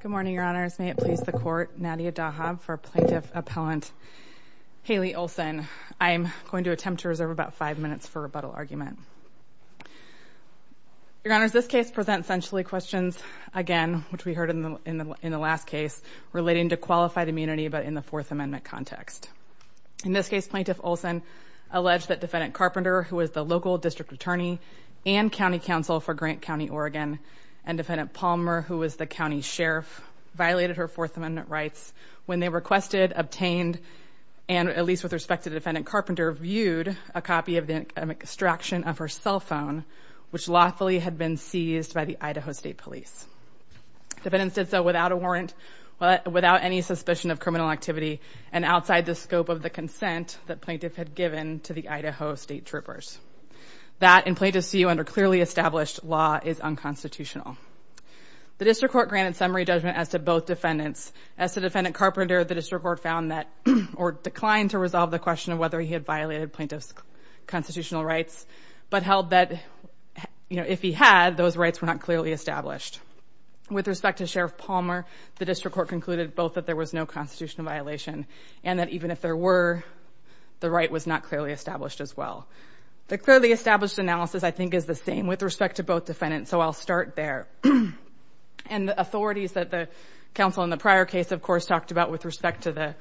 Good morning, Your Honors. May it please the Court, Nadia Dahab for Plaintiff Appellant Haley Olsen. I'm going to attempt to reserve about five minutes for rebuttal argument. Your Honors, this case presents essentially questions again, which we heard in the last case relating to qualified immunity, but in the Fourth Amendment context. In this case, Plaintiff Olsen alleged that Defendant Carpenter, who is the local district attorney and county counsel for Grant Farmer, who was the county sheriff, violated her Fourth Amendment rights when they requested, obtained, and at least with respect to Defendant Carpenter, viewed a copy of the extraction of her cell phone, which lawfully had been seized by the Idaho State Police. Defendants did so without a warrant, without any suspicion of criminal activity, and outside the scope of the consent that Plaintiff had given to the Idaho State Troopers. That, in Plaintiff's view, under clearly established law, is unconstitutional. The District Court granted summary judgment as to both defendants. As to Defendant Carpenter, the District Court found that, or declined to resolve the question of whether he had violated Plaintiff's constitutional rights, but held that, you know, if he had, those rights were not clearly established. With respect to Sheriff Palmer, the District Court concluded both that there was no constitutional violation, and that even if there were, the right was not clearly established as well. The clearly established analysis, I think, is the same with respect to both defendants, so I'll start there. And the authorities that the counsel in the prior case, of course, talked about with respect to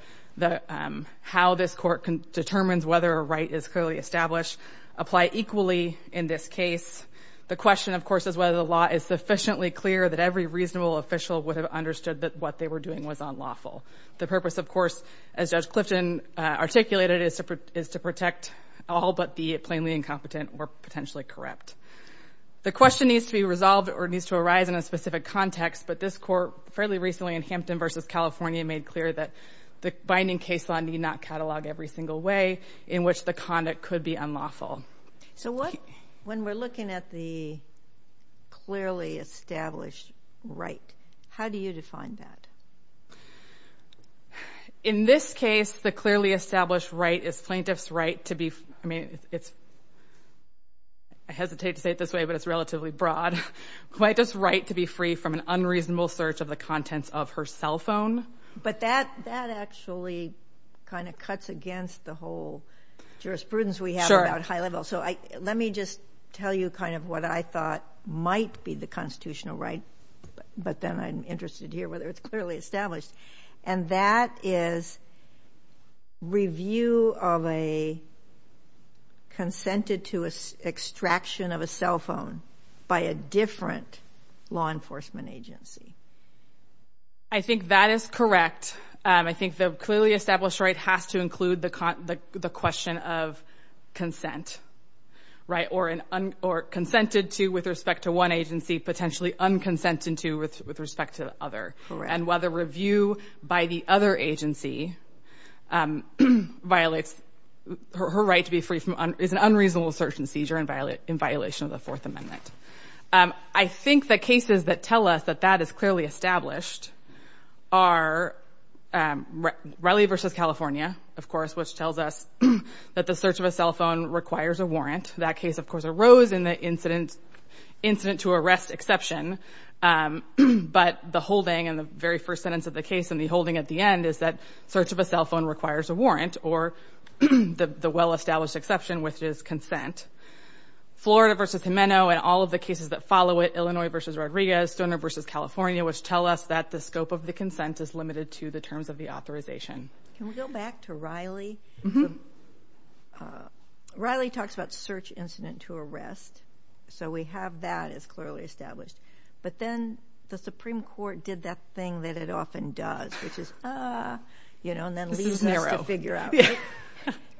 how this court determines whether a right is clearly established, apply equally in this case. The question, of course, is whether the law is sufficiently clear that every reasonable official would have understood that what they were doing was unlawful. The purpose, of course, as Judge Clifton articulated, is to protect all but the plainly incompetent or potentially corrupt. The question needs to be resolved, or it needs to arise in a specific context, but this court, fairly recently in Hampton v. California, made clear that the binding case law need not catalog every single way in which the conduct could be unlawful. So what, when we're looking at the clearly established right, how do you define that? In this case, the clearly established right is Plaintiff's right to be, I mean, it's, I hesitate to say it this way, but it's relatively broad, Plaintiff's right to be free from an unreasonable search of the contents of her cell phone. But that actually kind of cuts against the whole jurisprudence we have about high level. So let me just tell you kind of what I thought might be the constitutional right, but then I'm interested to hear whether it's clearly established. And that is review of a consented to extraction of a cell phone by a different law enforcement agency. I think that is correct. I think the clearly established right has to include the question of consent, right? Or consented to with respect to one agency, potentially unconsented to with respect to the other. And whether review by the other agency violates her right to be free from, is an unreasonable search and seizure in violation of the Fourth Amendment. I think the cases that tell us that that is clearly established are Raleigh versus California, of course, which tells us that the search of a cell phone requires a warrant. That case, of course, has an incident to arrest exception. But the holding in the very first sentence of the case and the holding at the end is that search of a cell phone requires a warrant or the well-established exception, which is consent. Florida versus Jimeno and all of the cases that follow it, Illinois versus Rodriguez, Stoner versus California, which tell us that the scope of the consent is limited to the terms of the authorization. Can we go back to Raleigh? Raleigh talks about search incident to arrest, so we have that as clearly established. But then the Supreme Court did that thing that it often does, which is, ah, you know, and then leaves us to figure out.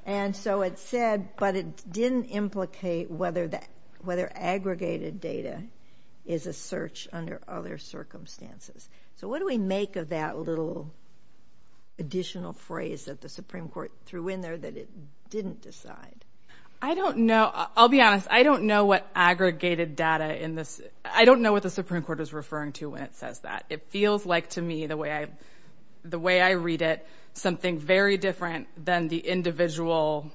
And so it said, but it didn't implicate whether that, whether aggregated data is a search under other circumstances. So what do we make of that little additional phrase that the Supreme Court threw in there that it didn't decide? I don't know. I'll be honest. I don't know what aggregated data in this, I don't know what the Supreme Court is referring to when it says that. It feels like to me the way I, the way I read it, something very different than the individual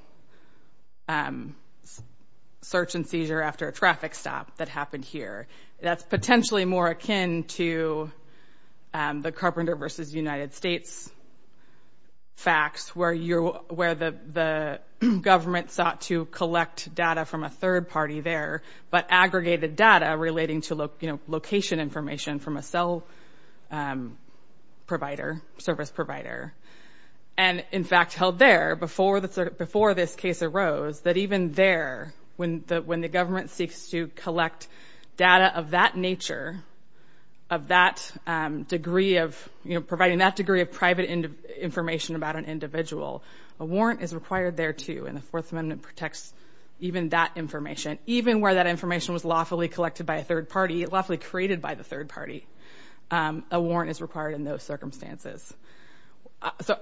search and seizure after a traffic stop that happened here. That's potentially more akin to the Carpenter versus United States facts where you're, where the, the government sought to collect data from a third party there, but aggregated data relating to, you know, location information from a cell provider, service provider. And in fact held there before the, before this case arose, that even there, when the, when the government seeks to collect data of that nature, of that degree of, you know, providing that degree of private information about an individual, a warrant is required there too. And the Fourth Amendment protects even that information, even where that information was lawfully collected by a third party, lawfully created by the third party. A warrant is required in those circumstances. So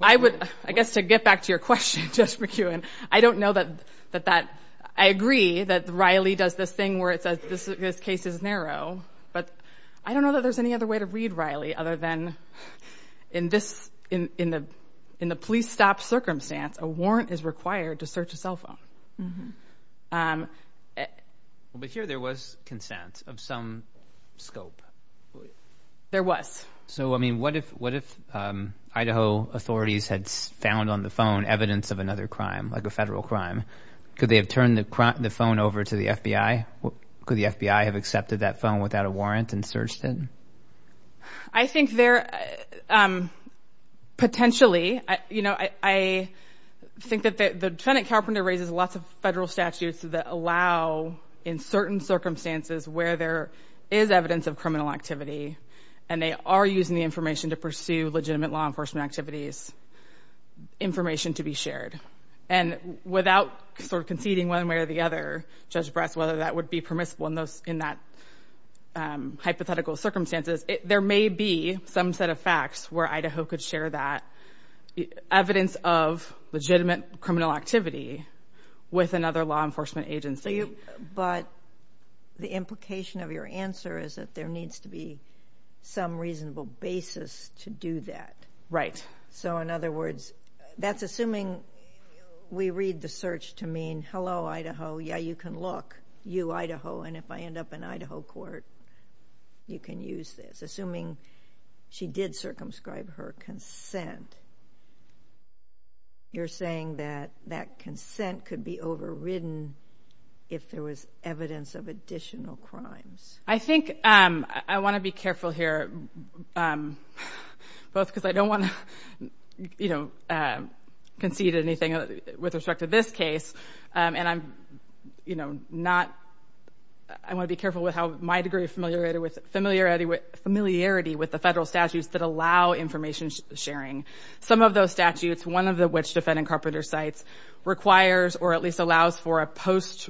I would, I guess to get back to your question, Judge McEwen, I don't know that, that that, I agree that Riley does this thing where it says this case is narrow, but I don't know that there's any other way to read Riley other than in this, in, in the, in the police stop circumstance, a warrant is required to search a cell phone. But here there was consent of some scope. There was. So, I mean, what if, what if Idaho authorities had found on the phone evidence of another crime, like a federal crime? Could they have turned the phone over to the FBI? Could the FBI have accepted that phone without a warrant and searched it? I think there, potentially, you know, I think that the Lieutenant Carpenter raises lots of federal statutes that allow in certain circumstances where there is evidence of criminal activity and they are using the information to pursue legitimate law enforcement activities, information to be shared. And without sort of conceding one way or the other, Judge Brass, whether that would be permissible in those, in that hypothetical circumstances, there may be some set of facts where Idaho could share that evidence of legitimate criminal activity with another law enforcement agency. But the implication of your answer is that there needs to be some reasonable basis to do that. So, in other words, that's assuming we read the search to mean, hello, Idaho, yeah, you can look, you, Idaho, and if I end up in Idaho court, you can use this. Assuming she did circumscribe her consent, you're saying that that consent could be overridden if there was evidence of additional crimes. I think, I want to be careful here, both because I don't want to, you know, concede anything with respect to this case, and I'm, you know, not, I want to be careful with how my degree of familiarity with the federal statutes that allow information sharing. Some of those statutes, one of which, Defending Carpenter Cites, requires or at least allows for a post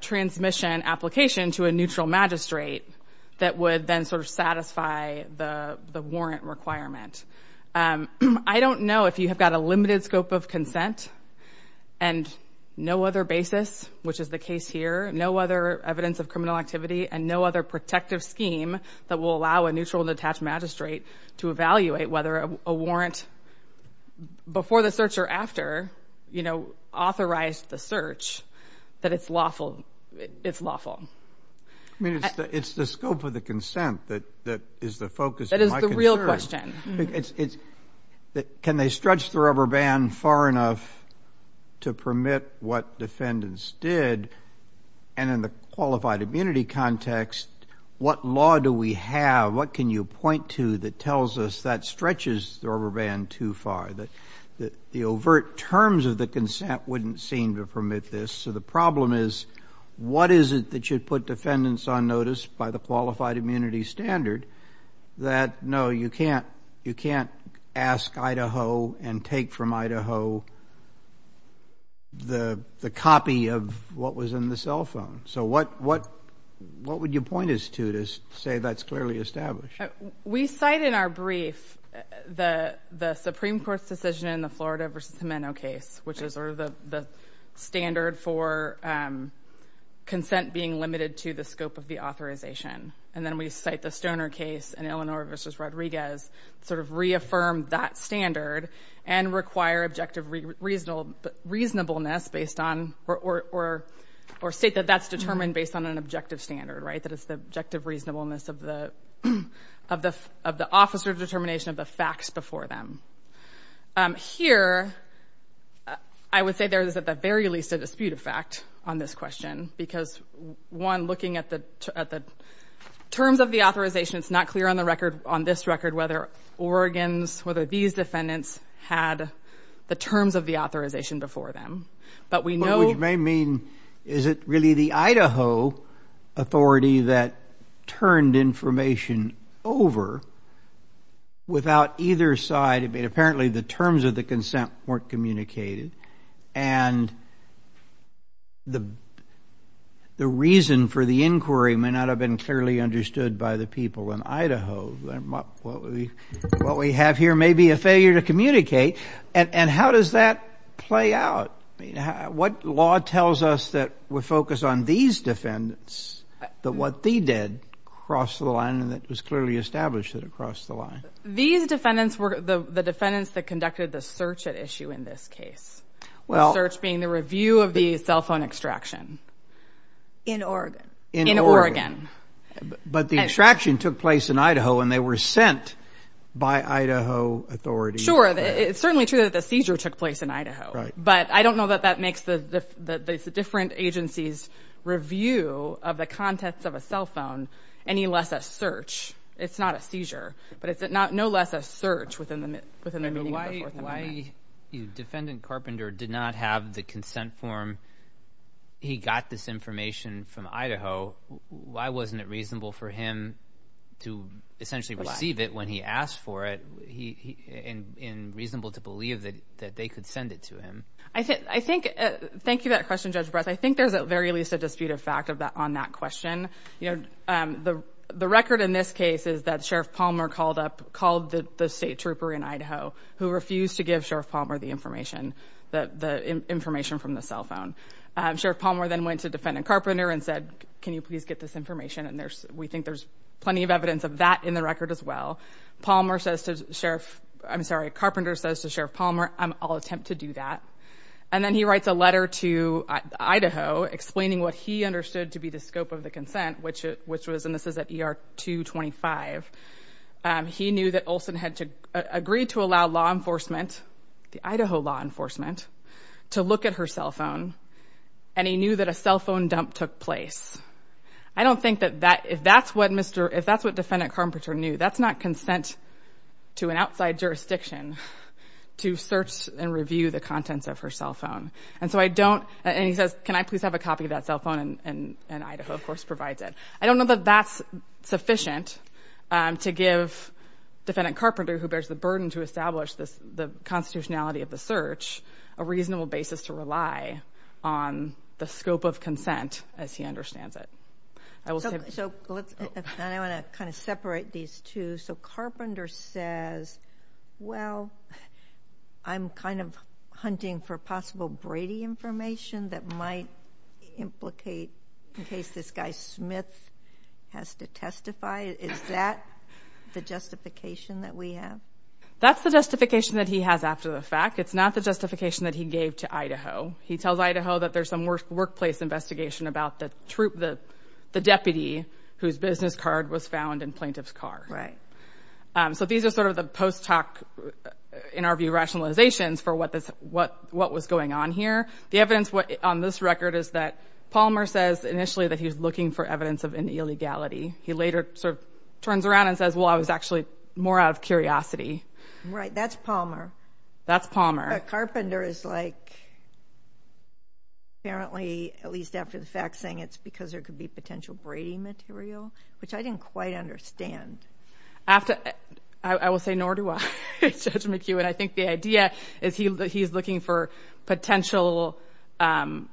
transmission application to a neutral magistrate that would then sort of satisfy the warrant requirement. I don't know if you have got a limited scope of consent and no other basis, which is the evidence here, no other evidence of criminal activity, and no other protective scheme that will allow a neutral and detached magistrate to evaluate whether a warrant before the search or after, you know, authorized the search, that it's lawful, it's lawful. I mean, it's the scope of the consent that is the focus of my concern. That is the real question. Can they stretch the rubber band far enough to permit what defendants did, and in the qualified immunity context, what law do we have, what can you point to that tells us that stretches the rubber band too far, that the overt terms of the consent wouldn't seem to permit this? So the problem is, what is it that should put defendants on notice by the qualified You can't ask Idaho and take from Idaho the copy of what was in the cell phone. So what would you point us to to say that's clearly established? We cite in our brief the Supreme Court's decision in the Florida v. Jimeno case, which is sort of the standard for consent being limited to the scope of the authorization. And then we cite the Stoner case in Illinois v. Rodriguez, sort of reaffirmed that standard and require objective reasonableness based on, or state that that's determined based on an objective standard, right, that it's the objective reasonableness of the officer's determination of the facts before them. Here I would say there is at the very least a dispute of fact on this question, because one, looking at the terms of the authorization, it's not clear on the record, on this record whether Oregon's, whether these defendants had the terms of the authorization before them. But we know... Which may mean, is it really the Idaho authority that turned information over without either side? I mean, apparently the terms of the consent weren't communicated. And the reason for the inquiry may not have been clearly understood by the people in Idaho. What we have here may be a failure to communicate. And how does that play out? What law tells us that we focus on these defendants, that what they did crossed the line and that was clearly established that it crossed the line? These defendants were the defendants that conducted the search at issue in this case. Well... The search being the review of the cell phone extraction. In Oregon. In Oregon. But the extraction took place in Idaho and they were sent by Idaho authorities. Sure, it's certainly true that the seizure took place in Idaho. But I don't know that that makes the different agencies' review of the contents of a cell phone any less a search. It's not a seizure. But it's no less a search within the meaning of the Fourth Amendment. And why defendant Carpenter did not have the consent form, he got this information from Idaho, why wasn't it reasonable for him to essentially receive it when he asked for it? And reasonable to believe that they could send it to him? I think, thank you for that question, Judge Brass. I think there's at very least a dispute of fact on that question. You know, the record in this case is that Sheriff Palmer called up, called the state trooper in Idaho who refused to give Sheriff Palmer the information, the information from the cell phone. Sheriff Palmer then went to defendant Carpenter and said, can you please get this information? And there's, we think there's plenty of evidence of that in the record as well. Palmer says to Sheriff, I'm sorry, Carpenter says to Sheriff Palmer, I'll attempt to do that. And then he writes a letter to Idaho explaining what he understood to be the scope of the consent, which was, and this is at ER 225. He knew that Olson had to agree to allow law enforcement, the Idaho law enforcement, to look at her cell phone, and he knew that a cell phone dump took place. I don't think that that, if that's what Mr., if that's what defendant Carpenter knew, that's not consent to an outside jurisdiction to search and review the contents of her cell phone. And so I don't, and he says, can I please have a copy of that cell phone? And Idaho, of course, provides it. I don't know that that's sufficient to give defendant Carpenter, who bears the burden to establish the constitutionality of the search, a reasonable basis to rely on the scope of consent as he understands it. I will say. So let's, and I want to kind of separate these two. So Carpenter says, well, I'm kind of hunting for possible Brady information that might implicate, in case this guy Smith has to testify, is that the justification that we have? That's the justification that he has after the fact. It's not the justification that he gave to Idaho. He tells Idaho that there's some workplace investigation about the troop, the deputy whose business card was found in plaintiff's car. Right. So these are sort of the post hoc, in our view, rationalizations for what was going on here. The evidence on this record is that Palmer says initially that he was looking for evidence of an illegality. He later sort of turns around and says, well, I was actually more out of curiosity. Right. That's Palmer. That's Palmer. But Carpenter is like, apparently, at least after the fact, saying it's because there could be potential Brady material, which I didn't quite understand. I will say, nor do I, Judge McHugh. And I think the idea is that he's looking for potential, you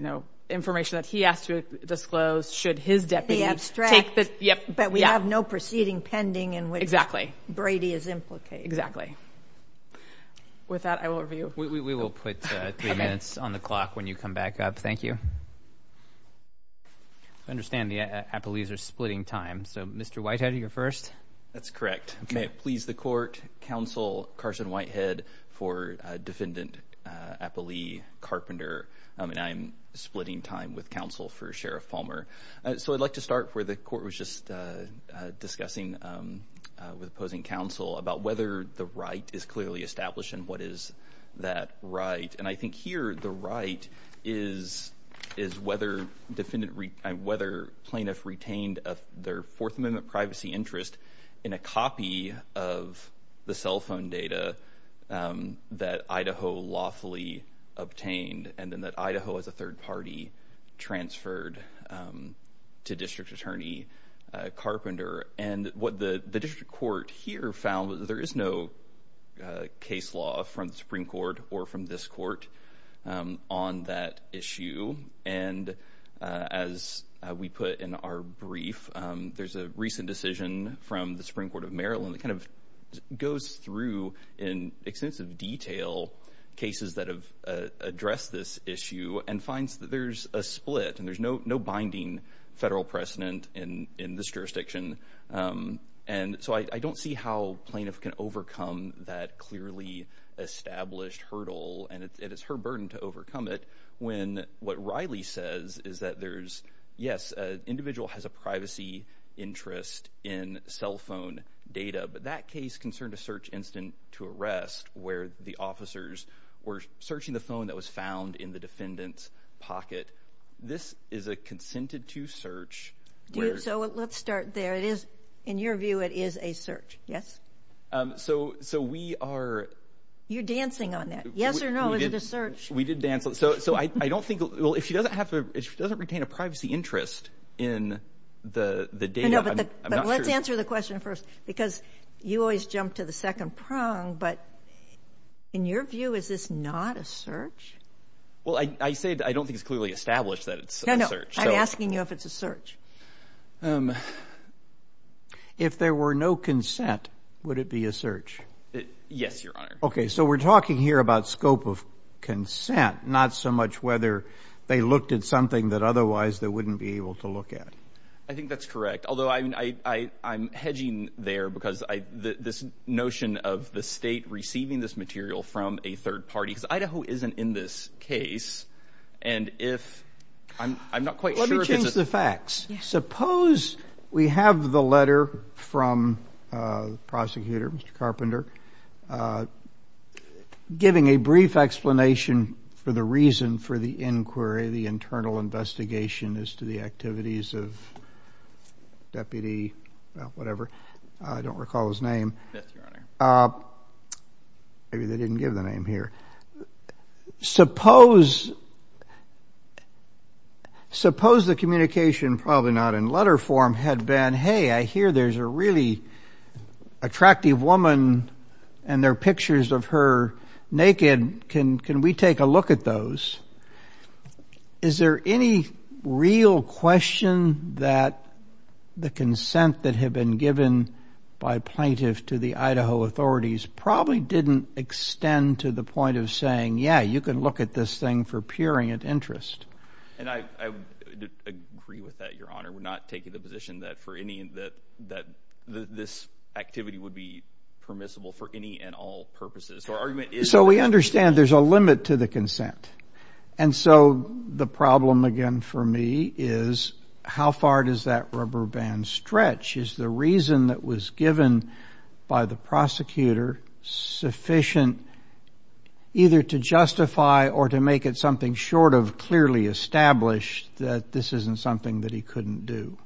know, information that he has to disclose, should his deputy take this. But we have no proceeding pending in which Brady is implicated. Exactly. With that, I will review. We will put three minutes on the clock when you come back up. Thank you. I understand the appellees are splitting time. So Mr. Whitehead, you're first. That's correct. May it please the court. Counsel Carson Whitehead for Defendant Appellee Carpenter. I'm splitting time with counsel for Sheriff Palmer. So I'd like to start where the court was just discussing with opposing counsel about whether the right is clearly established and what is that right. And I think here the right is whether plaintiff retained their Fourth Amendment privacy interest in a copy of the cell phone data that Idaho lawfully obtained and then that Idaho as a third party transferred to District Attorney Carpenter. And what the district court here found was that there is no case law from the Supreme Court or from this court on that issue. And as we put in our brief, there's a recent decision from the Supreme Court of Maryland that kind of goes through in extensive detail cases that have addressed this issue and finds that there's a split and there's no no binding federal precedent in this jurisdiction. And so I don't see how plaintiff can overcome that clearly established hurdle. And it is her burden to overcome it when what Riley says is that there's yes, an individual has a privacy interest in cell phone data. But that case concerned a search incident to arrest where the officers were searching the phone that was found in the defendant's pocket. This is a consented to search. So let's start there. It is in your view it is a search. Yes. So we are. You're dancing on that. Yes or no. Is it a search? We did dance. So I don't think. Well, if she doesn't have to. She doesn't retain a privacy interest in the data. But let's answer the question first, because you always jump to the second prong. But in your view, is this not a search? Well, I say I don't think it's clearly established that it's a search. I'm asking you if it's a search. If there were no consent, would it be a search? Yes, Your Honor. OK. So we're talking here about scope of consent, not so much whether they looked at something that otherwise they wouldn't be able to look at. I think that's correct. Although I'm hedging there because this notion of the state receiving this material from a third party. Because Idaho isn't in this case. And if I'm not quite sure. Let me change the facts. Yes. Suppose we have the letter from the prosecutor, Mr. Carpenter, giving a brief explanation for the reason for the inquiry, the internal investigation as to the activities of deputy whatever. I don't recall his name. Maybe they didn't give the name here. Suppose the communication, probably not in letter form, had been, hey, I hear there's a really attractive woman and there are pictures of her naked. Can we take a look at those? Is there any real question that the consent that had been given by plaintiffs to the Idaho authorities probably didn't extend to the point of saying, yeah, you can look at this thing for puring of interest. And I agree with that, your honor, would not take the position that for any that this activity would be permissible for any and all purposes. So we understand there's a limit to the consent. And so the problem again for me is how far does that rubber band stretch is the reason that was given by the prosecutor sufficient either to justify or to make it something short of clearly established that this isn't something that he couldn't do.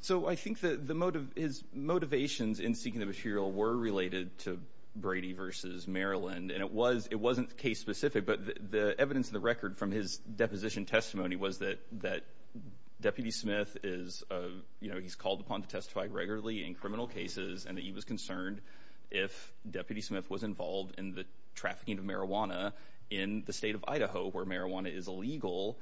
So I think that the motive is motivations in seeking the material were related to Brady versus Maryland. And it was, it wasn't case specific, but the evidence of the record from his deposition testimony was that, that deputy Smith is, you know, he's called upon to testify regularly in criminal cases and that he was concerned if deputy Smith was involved in the trafficking of marijuana in the state of Idaho where marijuana is illegal,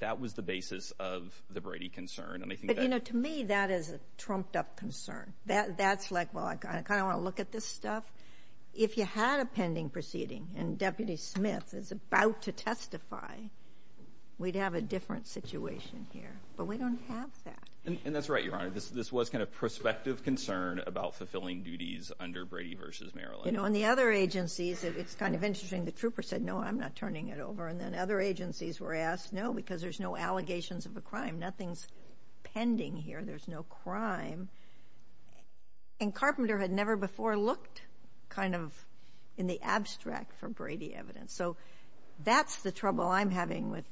that was the basis of the Brady concern. And I think, you know, to me, that is a trumped up concern that that's like, well, I kind of want to look at this stuff. If you had a pending proceeding and deputy Smith is about to testify, we'd have a different situation here, but we don't have that. And that's right. Your Honor, this, this was kind of prospective concern about fulfilling duties under Brady versus Maryland. And on the other agencies, it's kind of interesting. The trooper said, no, I'm not turning it over. And then other agencies were asked, no, because there's no allegations of a crime, nothing's pending here. There's no crime. And Carpenter had never before looked kind of in the abstract for Brady evidence. So that's the trouble I'm having with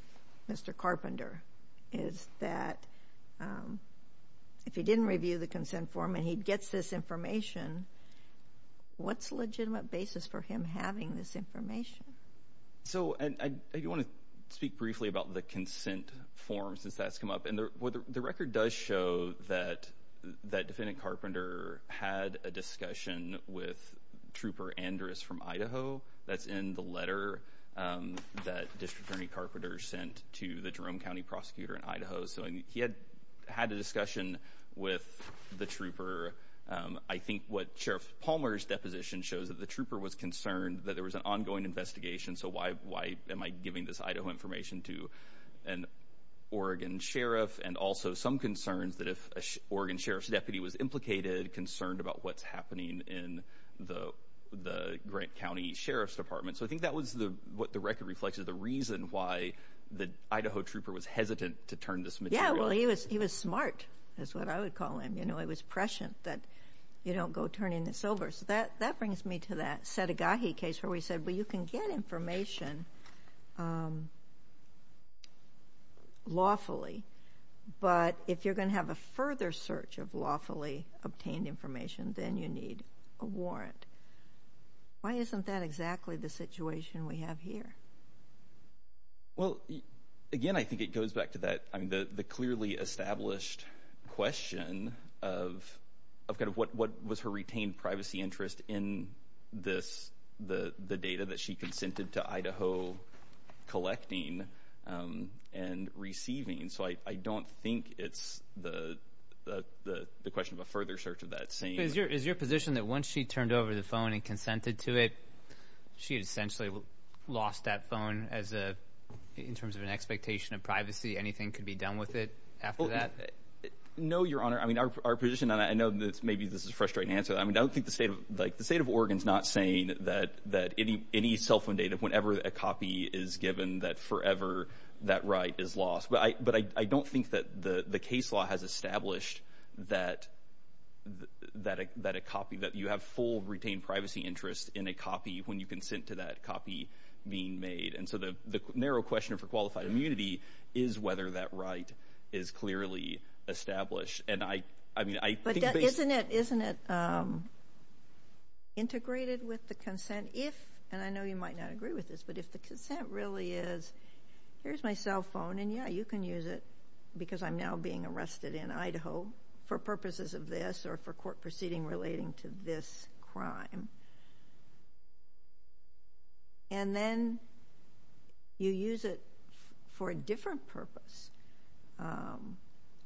Mr. Carpenter is that if he didn't review the consent form and he gets this information, what's legitimate basis for him having this So, and I do want to speak briefly about the consent form since that's come up. And the record does show that that defendant Carpenter had a discussion with Trooper Andrus from Idaho. That's in the letter that District Attorney Carpenter sent to the Jerome County prosecutor in Idaho. So he had had a discussion with the trooper. I think what Sheriff Palmer's deposition shows that the trooper was concerned that there was an ongoing investigation. So why, why am I giving this Idaho information to an Oregon sheriff? And also some concerns that if Oregon sheriff's deputy was implicated, concerned about what's happening in the, the grant county sheriff's department. So I think that was the, what the record reflects is the reason why the Idaho trooper was hesitant to turn this material. Well, he was, he was smart. That's what I would call him. You know, it was prescient that you don't go turning this over. So that, that brings me to that Setagahi case where we said, well, you can get information lawfully, but if you're going to have a further search of lawfully obtained information, then you need a warrant. Why isn't that exactly the situation we have here? Well, again, I think it goes back to that, I mean, the, the clearly established question of, of kind of what, what was her retained privacy interest in this, the, the data that she consented to Idaho collecting and receiving. So I, I don't think it's the, the, the, the question of a further search of that same. Is your position that once she turned over the phone and consented to it, she had essentially lost that phone as a, in terms of an expectation of privacy, anything could be done with it after that? No, your honor. I mean, our, our position on that, I know that maybe this is a frustrating answer. I mean, I don't think the state of, like the state of Oregon's not saying that, that any, any cell phone data, whenever a copy is given, that forever that right is lost. But I, but I, I don't think that the, the case law has established that, that a, that a copy, that you have full retained privacy interest in a copy when you consent to that copy being made. And so the, the narrow question for qualified immunity is whether that right is clearly established. And I, I mean, I think that. But isn't it, isn't it integrated with the consent if, and I know you might not agree with this, but if the consent really is, here's my cell phone and yeah, you can use it because I'm now being arrested in Idaho for purposes of this or for court proceeding relating to this crime. And then you use it for a different purpose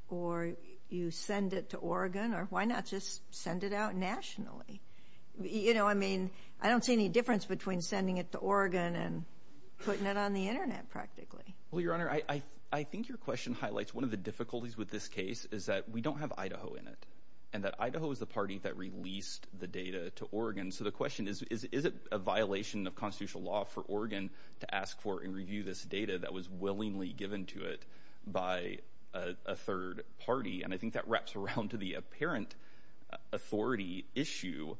or you send it to Oregon or why not just send it out nationally? You know, I mean, I don't see any difference between sending it to Oregon and putting it on the internet practically. Well, Your Honor, I, I, I think your question highlights one of the difficulties with this case is that we don't have Idaho in it and that Idaho is the party that released the data to Oregon. So the question is, is, is it a violation of constitutional law for Oregon to ask for and review this data that was willingly given to it by a third party? And I think that wraps around to the apparent authority issue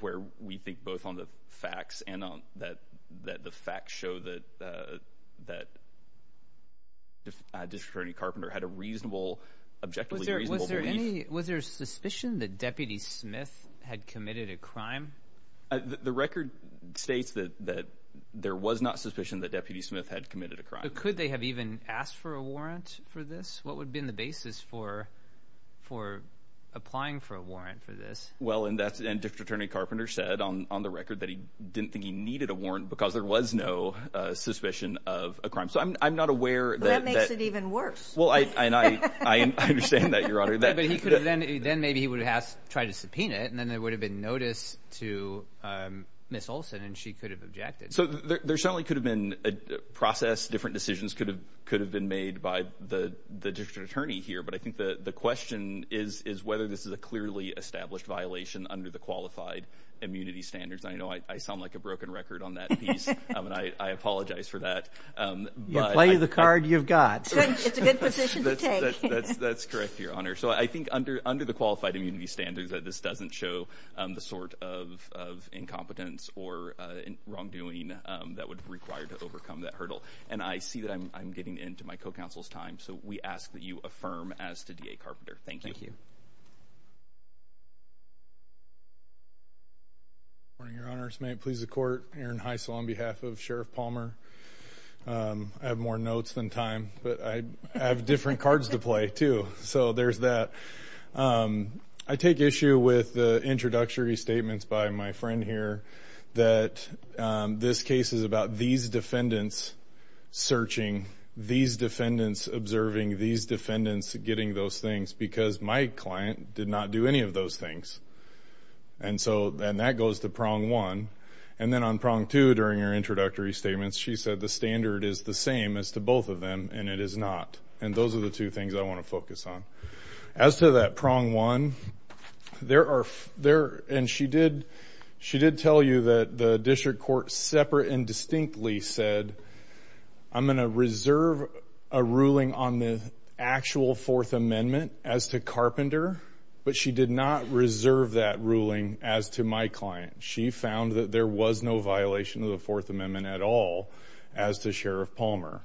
where we think both on the facts and on that, that the facts show that, uh, that, uh, District Attorney Carpenter had a reasonable, objectively reasonable belief. Was there a suspicion that Deputy Smith had committed a crime? The record states that, that there was not suspicion that Deputy Smith had committed a crime. Could they have even asked for a warrant for this? What would have been the basis for, for applying for a warrant for this? Well, and that's, and District Attorney Carpenter said on, on the record that he didn't think he needed a warrant because there was no suspicion of a crime. So I'm, I'm not aware. That makes it even worse. Well, I, I, and I, I understand that, Your Honor, then maybe he would have tried to subpoena it and then there would have been notice to, um, Ms. Olson and she could have objected. So there certainly could have been a process, different decisions could have, could have been made by the, the District Attorney here. But I think the, the question is, is whether this is a clearly established violation under the qualified immunity standards. I know I sound like a broken record on that piece. I mean, I, I apologize for that. You play the card you've got. It's a good position to take. That's correct, Your Honor. So I think under, under the qualified immunity standards that this doesn't show the sort of, of incompetence or wrongdoing that would require to overcome that hurdle. And I see that I'm, I'm getting into my co-counsel's time. So we ask that you affirm as to DA Carpenter. Thank you. Thank you. Good morning, Your Honor. It's my pleasure to court Aaron Heisel on behalf of Sheriff Palmer. Um, I have more notes than time, but I have different cards to play too. So there's that. Um, I take issue with the introductory statements by my friend here that, um, this case is about these defendants searching, these defendants observing, these defendants getting those things because my client did not do any of those things. And so, and that goes to prong one. And then on prong two during her introductory statements, she said the standard is the same as to both of them and it is not. And those are the two things I want to focus on. As to that prong one, there are, there, and she did, she did tell you that the district court separate and distinctly said, I'm going to reserve a ruling on the actual fourth amendment as to Carpenter. But she did not reserve that ruling as to my client. She found that there was no violation of the fourth amendment at all as to Sheriff Palmer.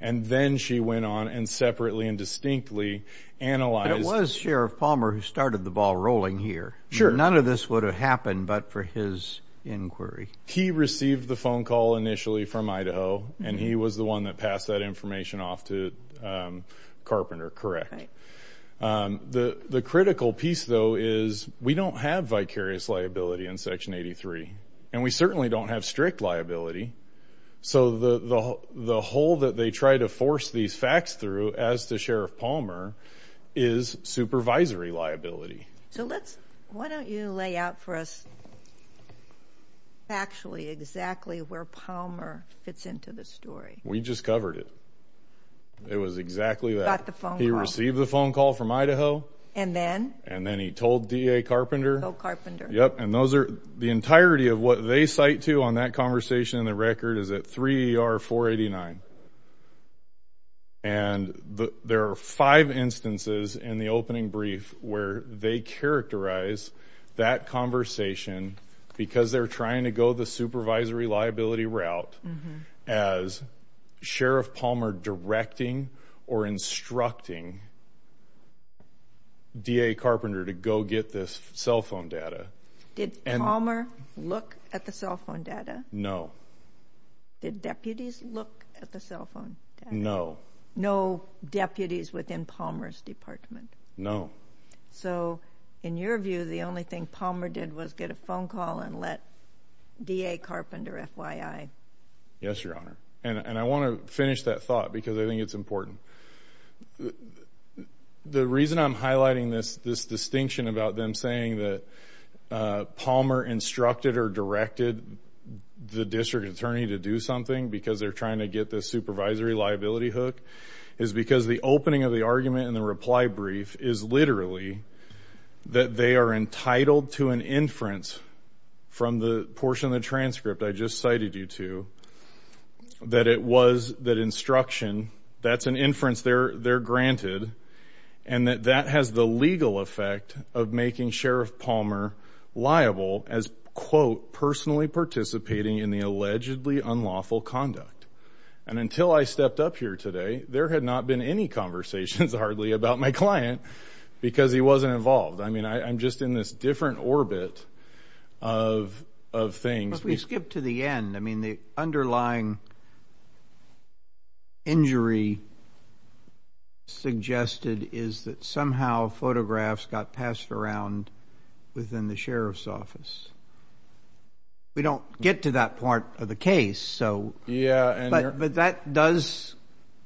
And then she went on and separately and distinctly analyzed. It was Sheriff Palmer who started the ball rolling here. Sure. None of this would have happened but for his inquiry. He received the phone call initially from Idaho and he was the one that passed that information off to, um, Carpenter, correct? Um, the, the critical piece though is we don't have vicarious liability in section 83. And we certainly don't have strict liability. So the, the, the whole that they try to force these facts through as to Sheriff Palmer is supervisory liability. So let's, why don't you lay out for us actually exactly where Palmer fits into the story. We just covered it. It was exactly that. Got the phone call. He received the phone call from Idaho. And then? And then he told DA Carpenter. So Carpenter. Yep. And those are, the entirety of what they cite to on that conversation in the record is at 3 ER 489. And the, there are five instances in the opening brief where they characterize that conversation because they're trying to go the supervisory liability route as Sheriff Palmer directing or instructing DA Carpenter to go get this cell phone data. Did Palmer look at the cell phone data? No. Did deputies look at the cell phone data? No. No deputies within Palmer's department? No. So in your view, the only thing Palmer did was get a phone call and let DA Carpenter FYI. Yes, Your Honor. And I want to finish that thought because I think it's important. The reason I'm highlighting this, this distinction about them saying that Palmer instructed or directed the district attorney to do something because they're trying to get this supervisory liability hook is because the opening of the argument and the reply brief is literally that they are entitled to an inference from the portion of the transcript I just cited you to, that it was that instruction, that's an inference they're, they're granted and that that has the legal effect of making Sheriff Palmer liable as, quote, personally participating in the allegedly unlawful conduct. And until I stepped up here today, there had not been any conversations hardly about my client because he wasn't involved. I mean, I'm just in this different orbit of, of things. Well, if we skip to the end, I mean, the underlying injury suggested is that somehow photographs got passed around within the Sheriff's office. We don't get to that part of the case, so... Yeah, and you're... But, but that does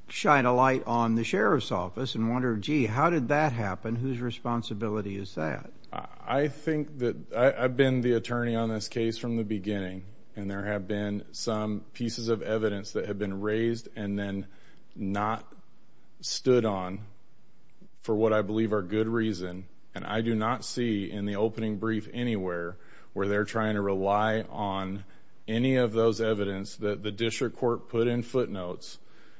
shine a light on the Sheriff's office and wonder, gee, how did that happen? Whose responsibility is that? I think that, I've been the attorney on this case from the beginning, and there have been some pieces of evidence that have been raised and then not stood on for what I believe are good reason. And I do not see in the opening brief anywhere where they're trying to rely on any of those evidence that the district court put in footnotes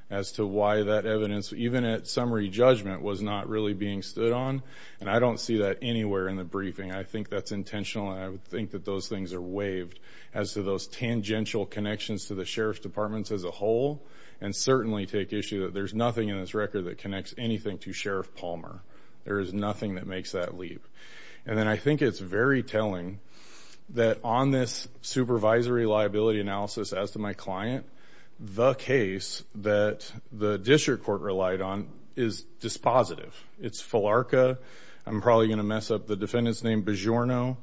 as to why that evidence, even at summary judgment, was not really being stood on. And I don't see that anywhere in the briefing. I think that's intentional, and I would think that those things are waived as to those tangential connections to the Sheriff's departments as a whole, and certainly take issue that there's nothing in this record that connects anything to Sheriff Palmer. There is nothing that makes that leap. And then I think it's very telling that on this supervisory liability analysis as to my client, the case that the district court relied on is dispositive. It's Philarka. I'm probably going to mess up the defendant's name, Bigiorno.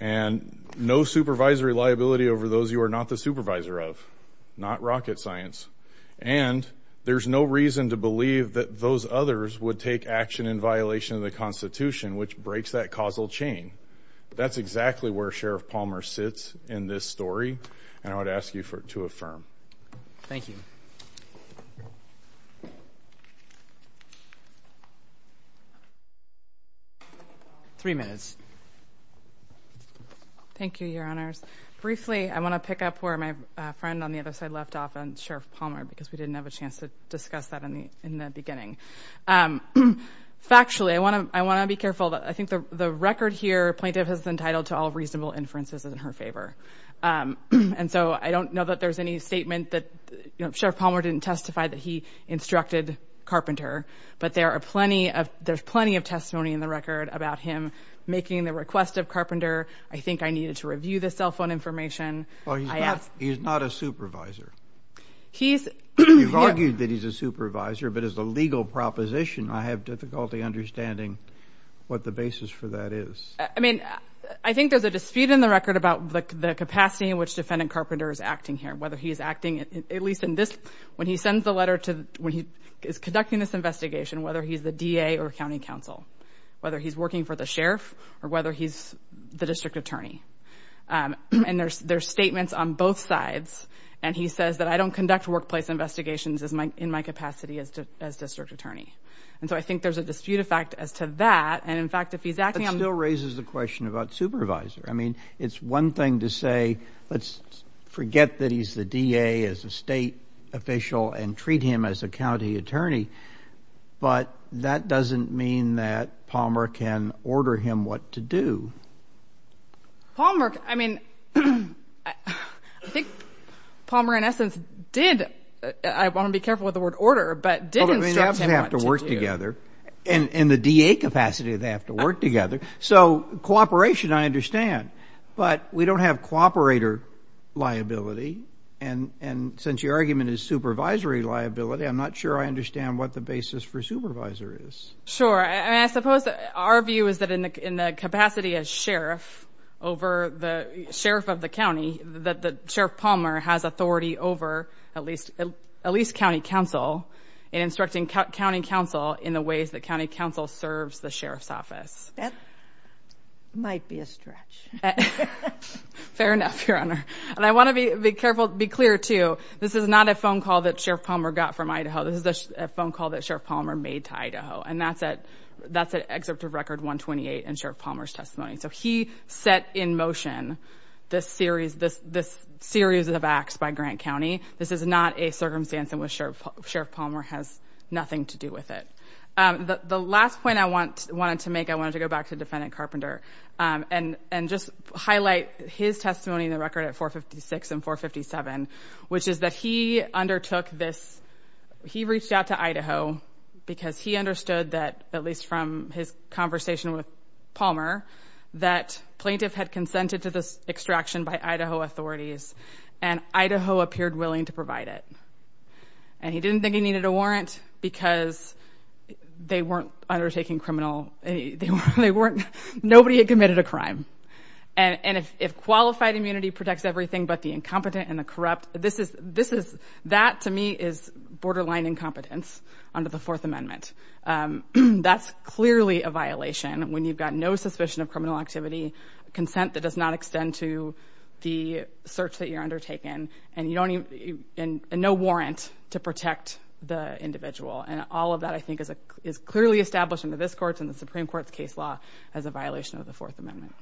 And no supervisory liability over those you are not the supervisor of. Not rocket science. And there's no reason to believe that those others would take action in violation of the Constitution, which breaks that causal chain. That's exactly where Sheriff Palmer sits in this story, and I would ask you to affirm. Thank you. Three minutes. Thank you, Your Honors. Briefly, I want to pick up where my friend on the other side left off on Sheriff Palmer, because we didn't have a chance to discuss that in the beginning. Factually, I want to be careful. I think the record here, plaintiff is entitled to all reasonable inferences in her favor. And so I don't know that there's any statement that Sheriff Palmer didn't testify that he instructed Carpenter, but there's plenty of testimony in the record about him making the request of Carpenter. I think I needed to review the cell phone information. Well, he's not a supervisor. You've argued that he's a supervisor, but as a legal proposition, I have difficulty understanding what the basis for that is. I mean, I think there's a dispute in the record about the capacity in which Defendant Carpenter is acting here, whether he's acting, at least in this, when he sends the letter to, when he is conducting this investigation, whether he's the DA or County Counsel, whether he's working for the Sheriff, or whether he's the District Attorney. And there's statements on both sides, and he says that I don't conduct workplace investigations in my capacity as District Attorney. And so I think there's a dispute, in fact, as to that. And in fact, if he's acting on- That still raises the question about supervisor. I mean, it's one thing to say, let's forget that he's the DA as a state official and treat him as a county attorney, but that doesn't mean that Palmer can order him what to do. Palmer, I mean, I think Palmer, in essence, did, I want to be careful with the word order, but did instruct him what to do. And in the DA capacity, they have to work together. So cooperation, I understand. But we don't have cooperator liability, and since your argument is supervisory liability, I'm not sure I understand what the basis for supervisor is. Sure, and I suppose our view is that in the capacity as Sheriff over the, Sheriff of the county, that Sheriff Palmer has authority over at least in county council in the ways that county council serves the Sheriff's office. That might be a stretch. Fair enough, Your Honor. And I want to be careful, be clear, too, this is not a phone call that Sheriff Palmer got from Idaho. This is a phone call that Sheriff Palmer made to Idaho, and that's at Excerpt of Record 128 in Sheriff Palmer's testimony. So he set in motion this series of acts by Grant County. This is not a circumstance in which Sheriff Palmer has nothing to do with it. The last point I wanted to make, I wanted to go back to Defendant Carpenter and just highlight his testimony in the record at 456 and 457, which is that he undertook this, he reached out to Idaho, because he understood that, at least from his conversation with Palmer, that plaintiff had consented to this extraction by Idaho authorities. And Idaho appeared willing to provide it. And he didn't think he needed a warrant, because they weren't undertaking criminal, they weren't, nobody had committed a crime. And if qualified immunity protects everything but the incompetent and the corrupt, this is, that to me is borderline incompetence under the Fourth Amendment, that's clearly a violation when you've got no suspicion of criminal activity, consent that does not extend to the search that you're undertaken, and no warrant to protect the individual. And all of that, I think, is clearly established in this court's and the Supreme Court's case law as a violation of the Fourth Amendment.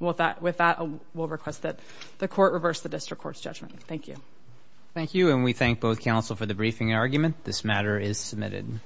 With that, we'll request that the court reverse the district court's judgment. Thank you. Thank you, and we thank both counsel for the briefing argument. This matter is submitted.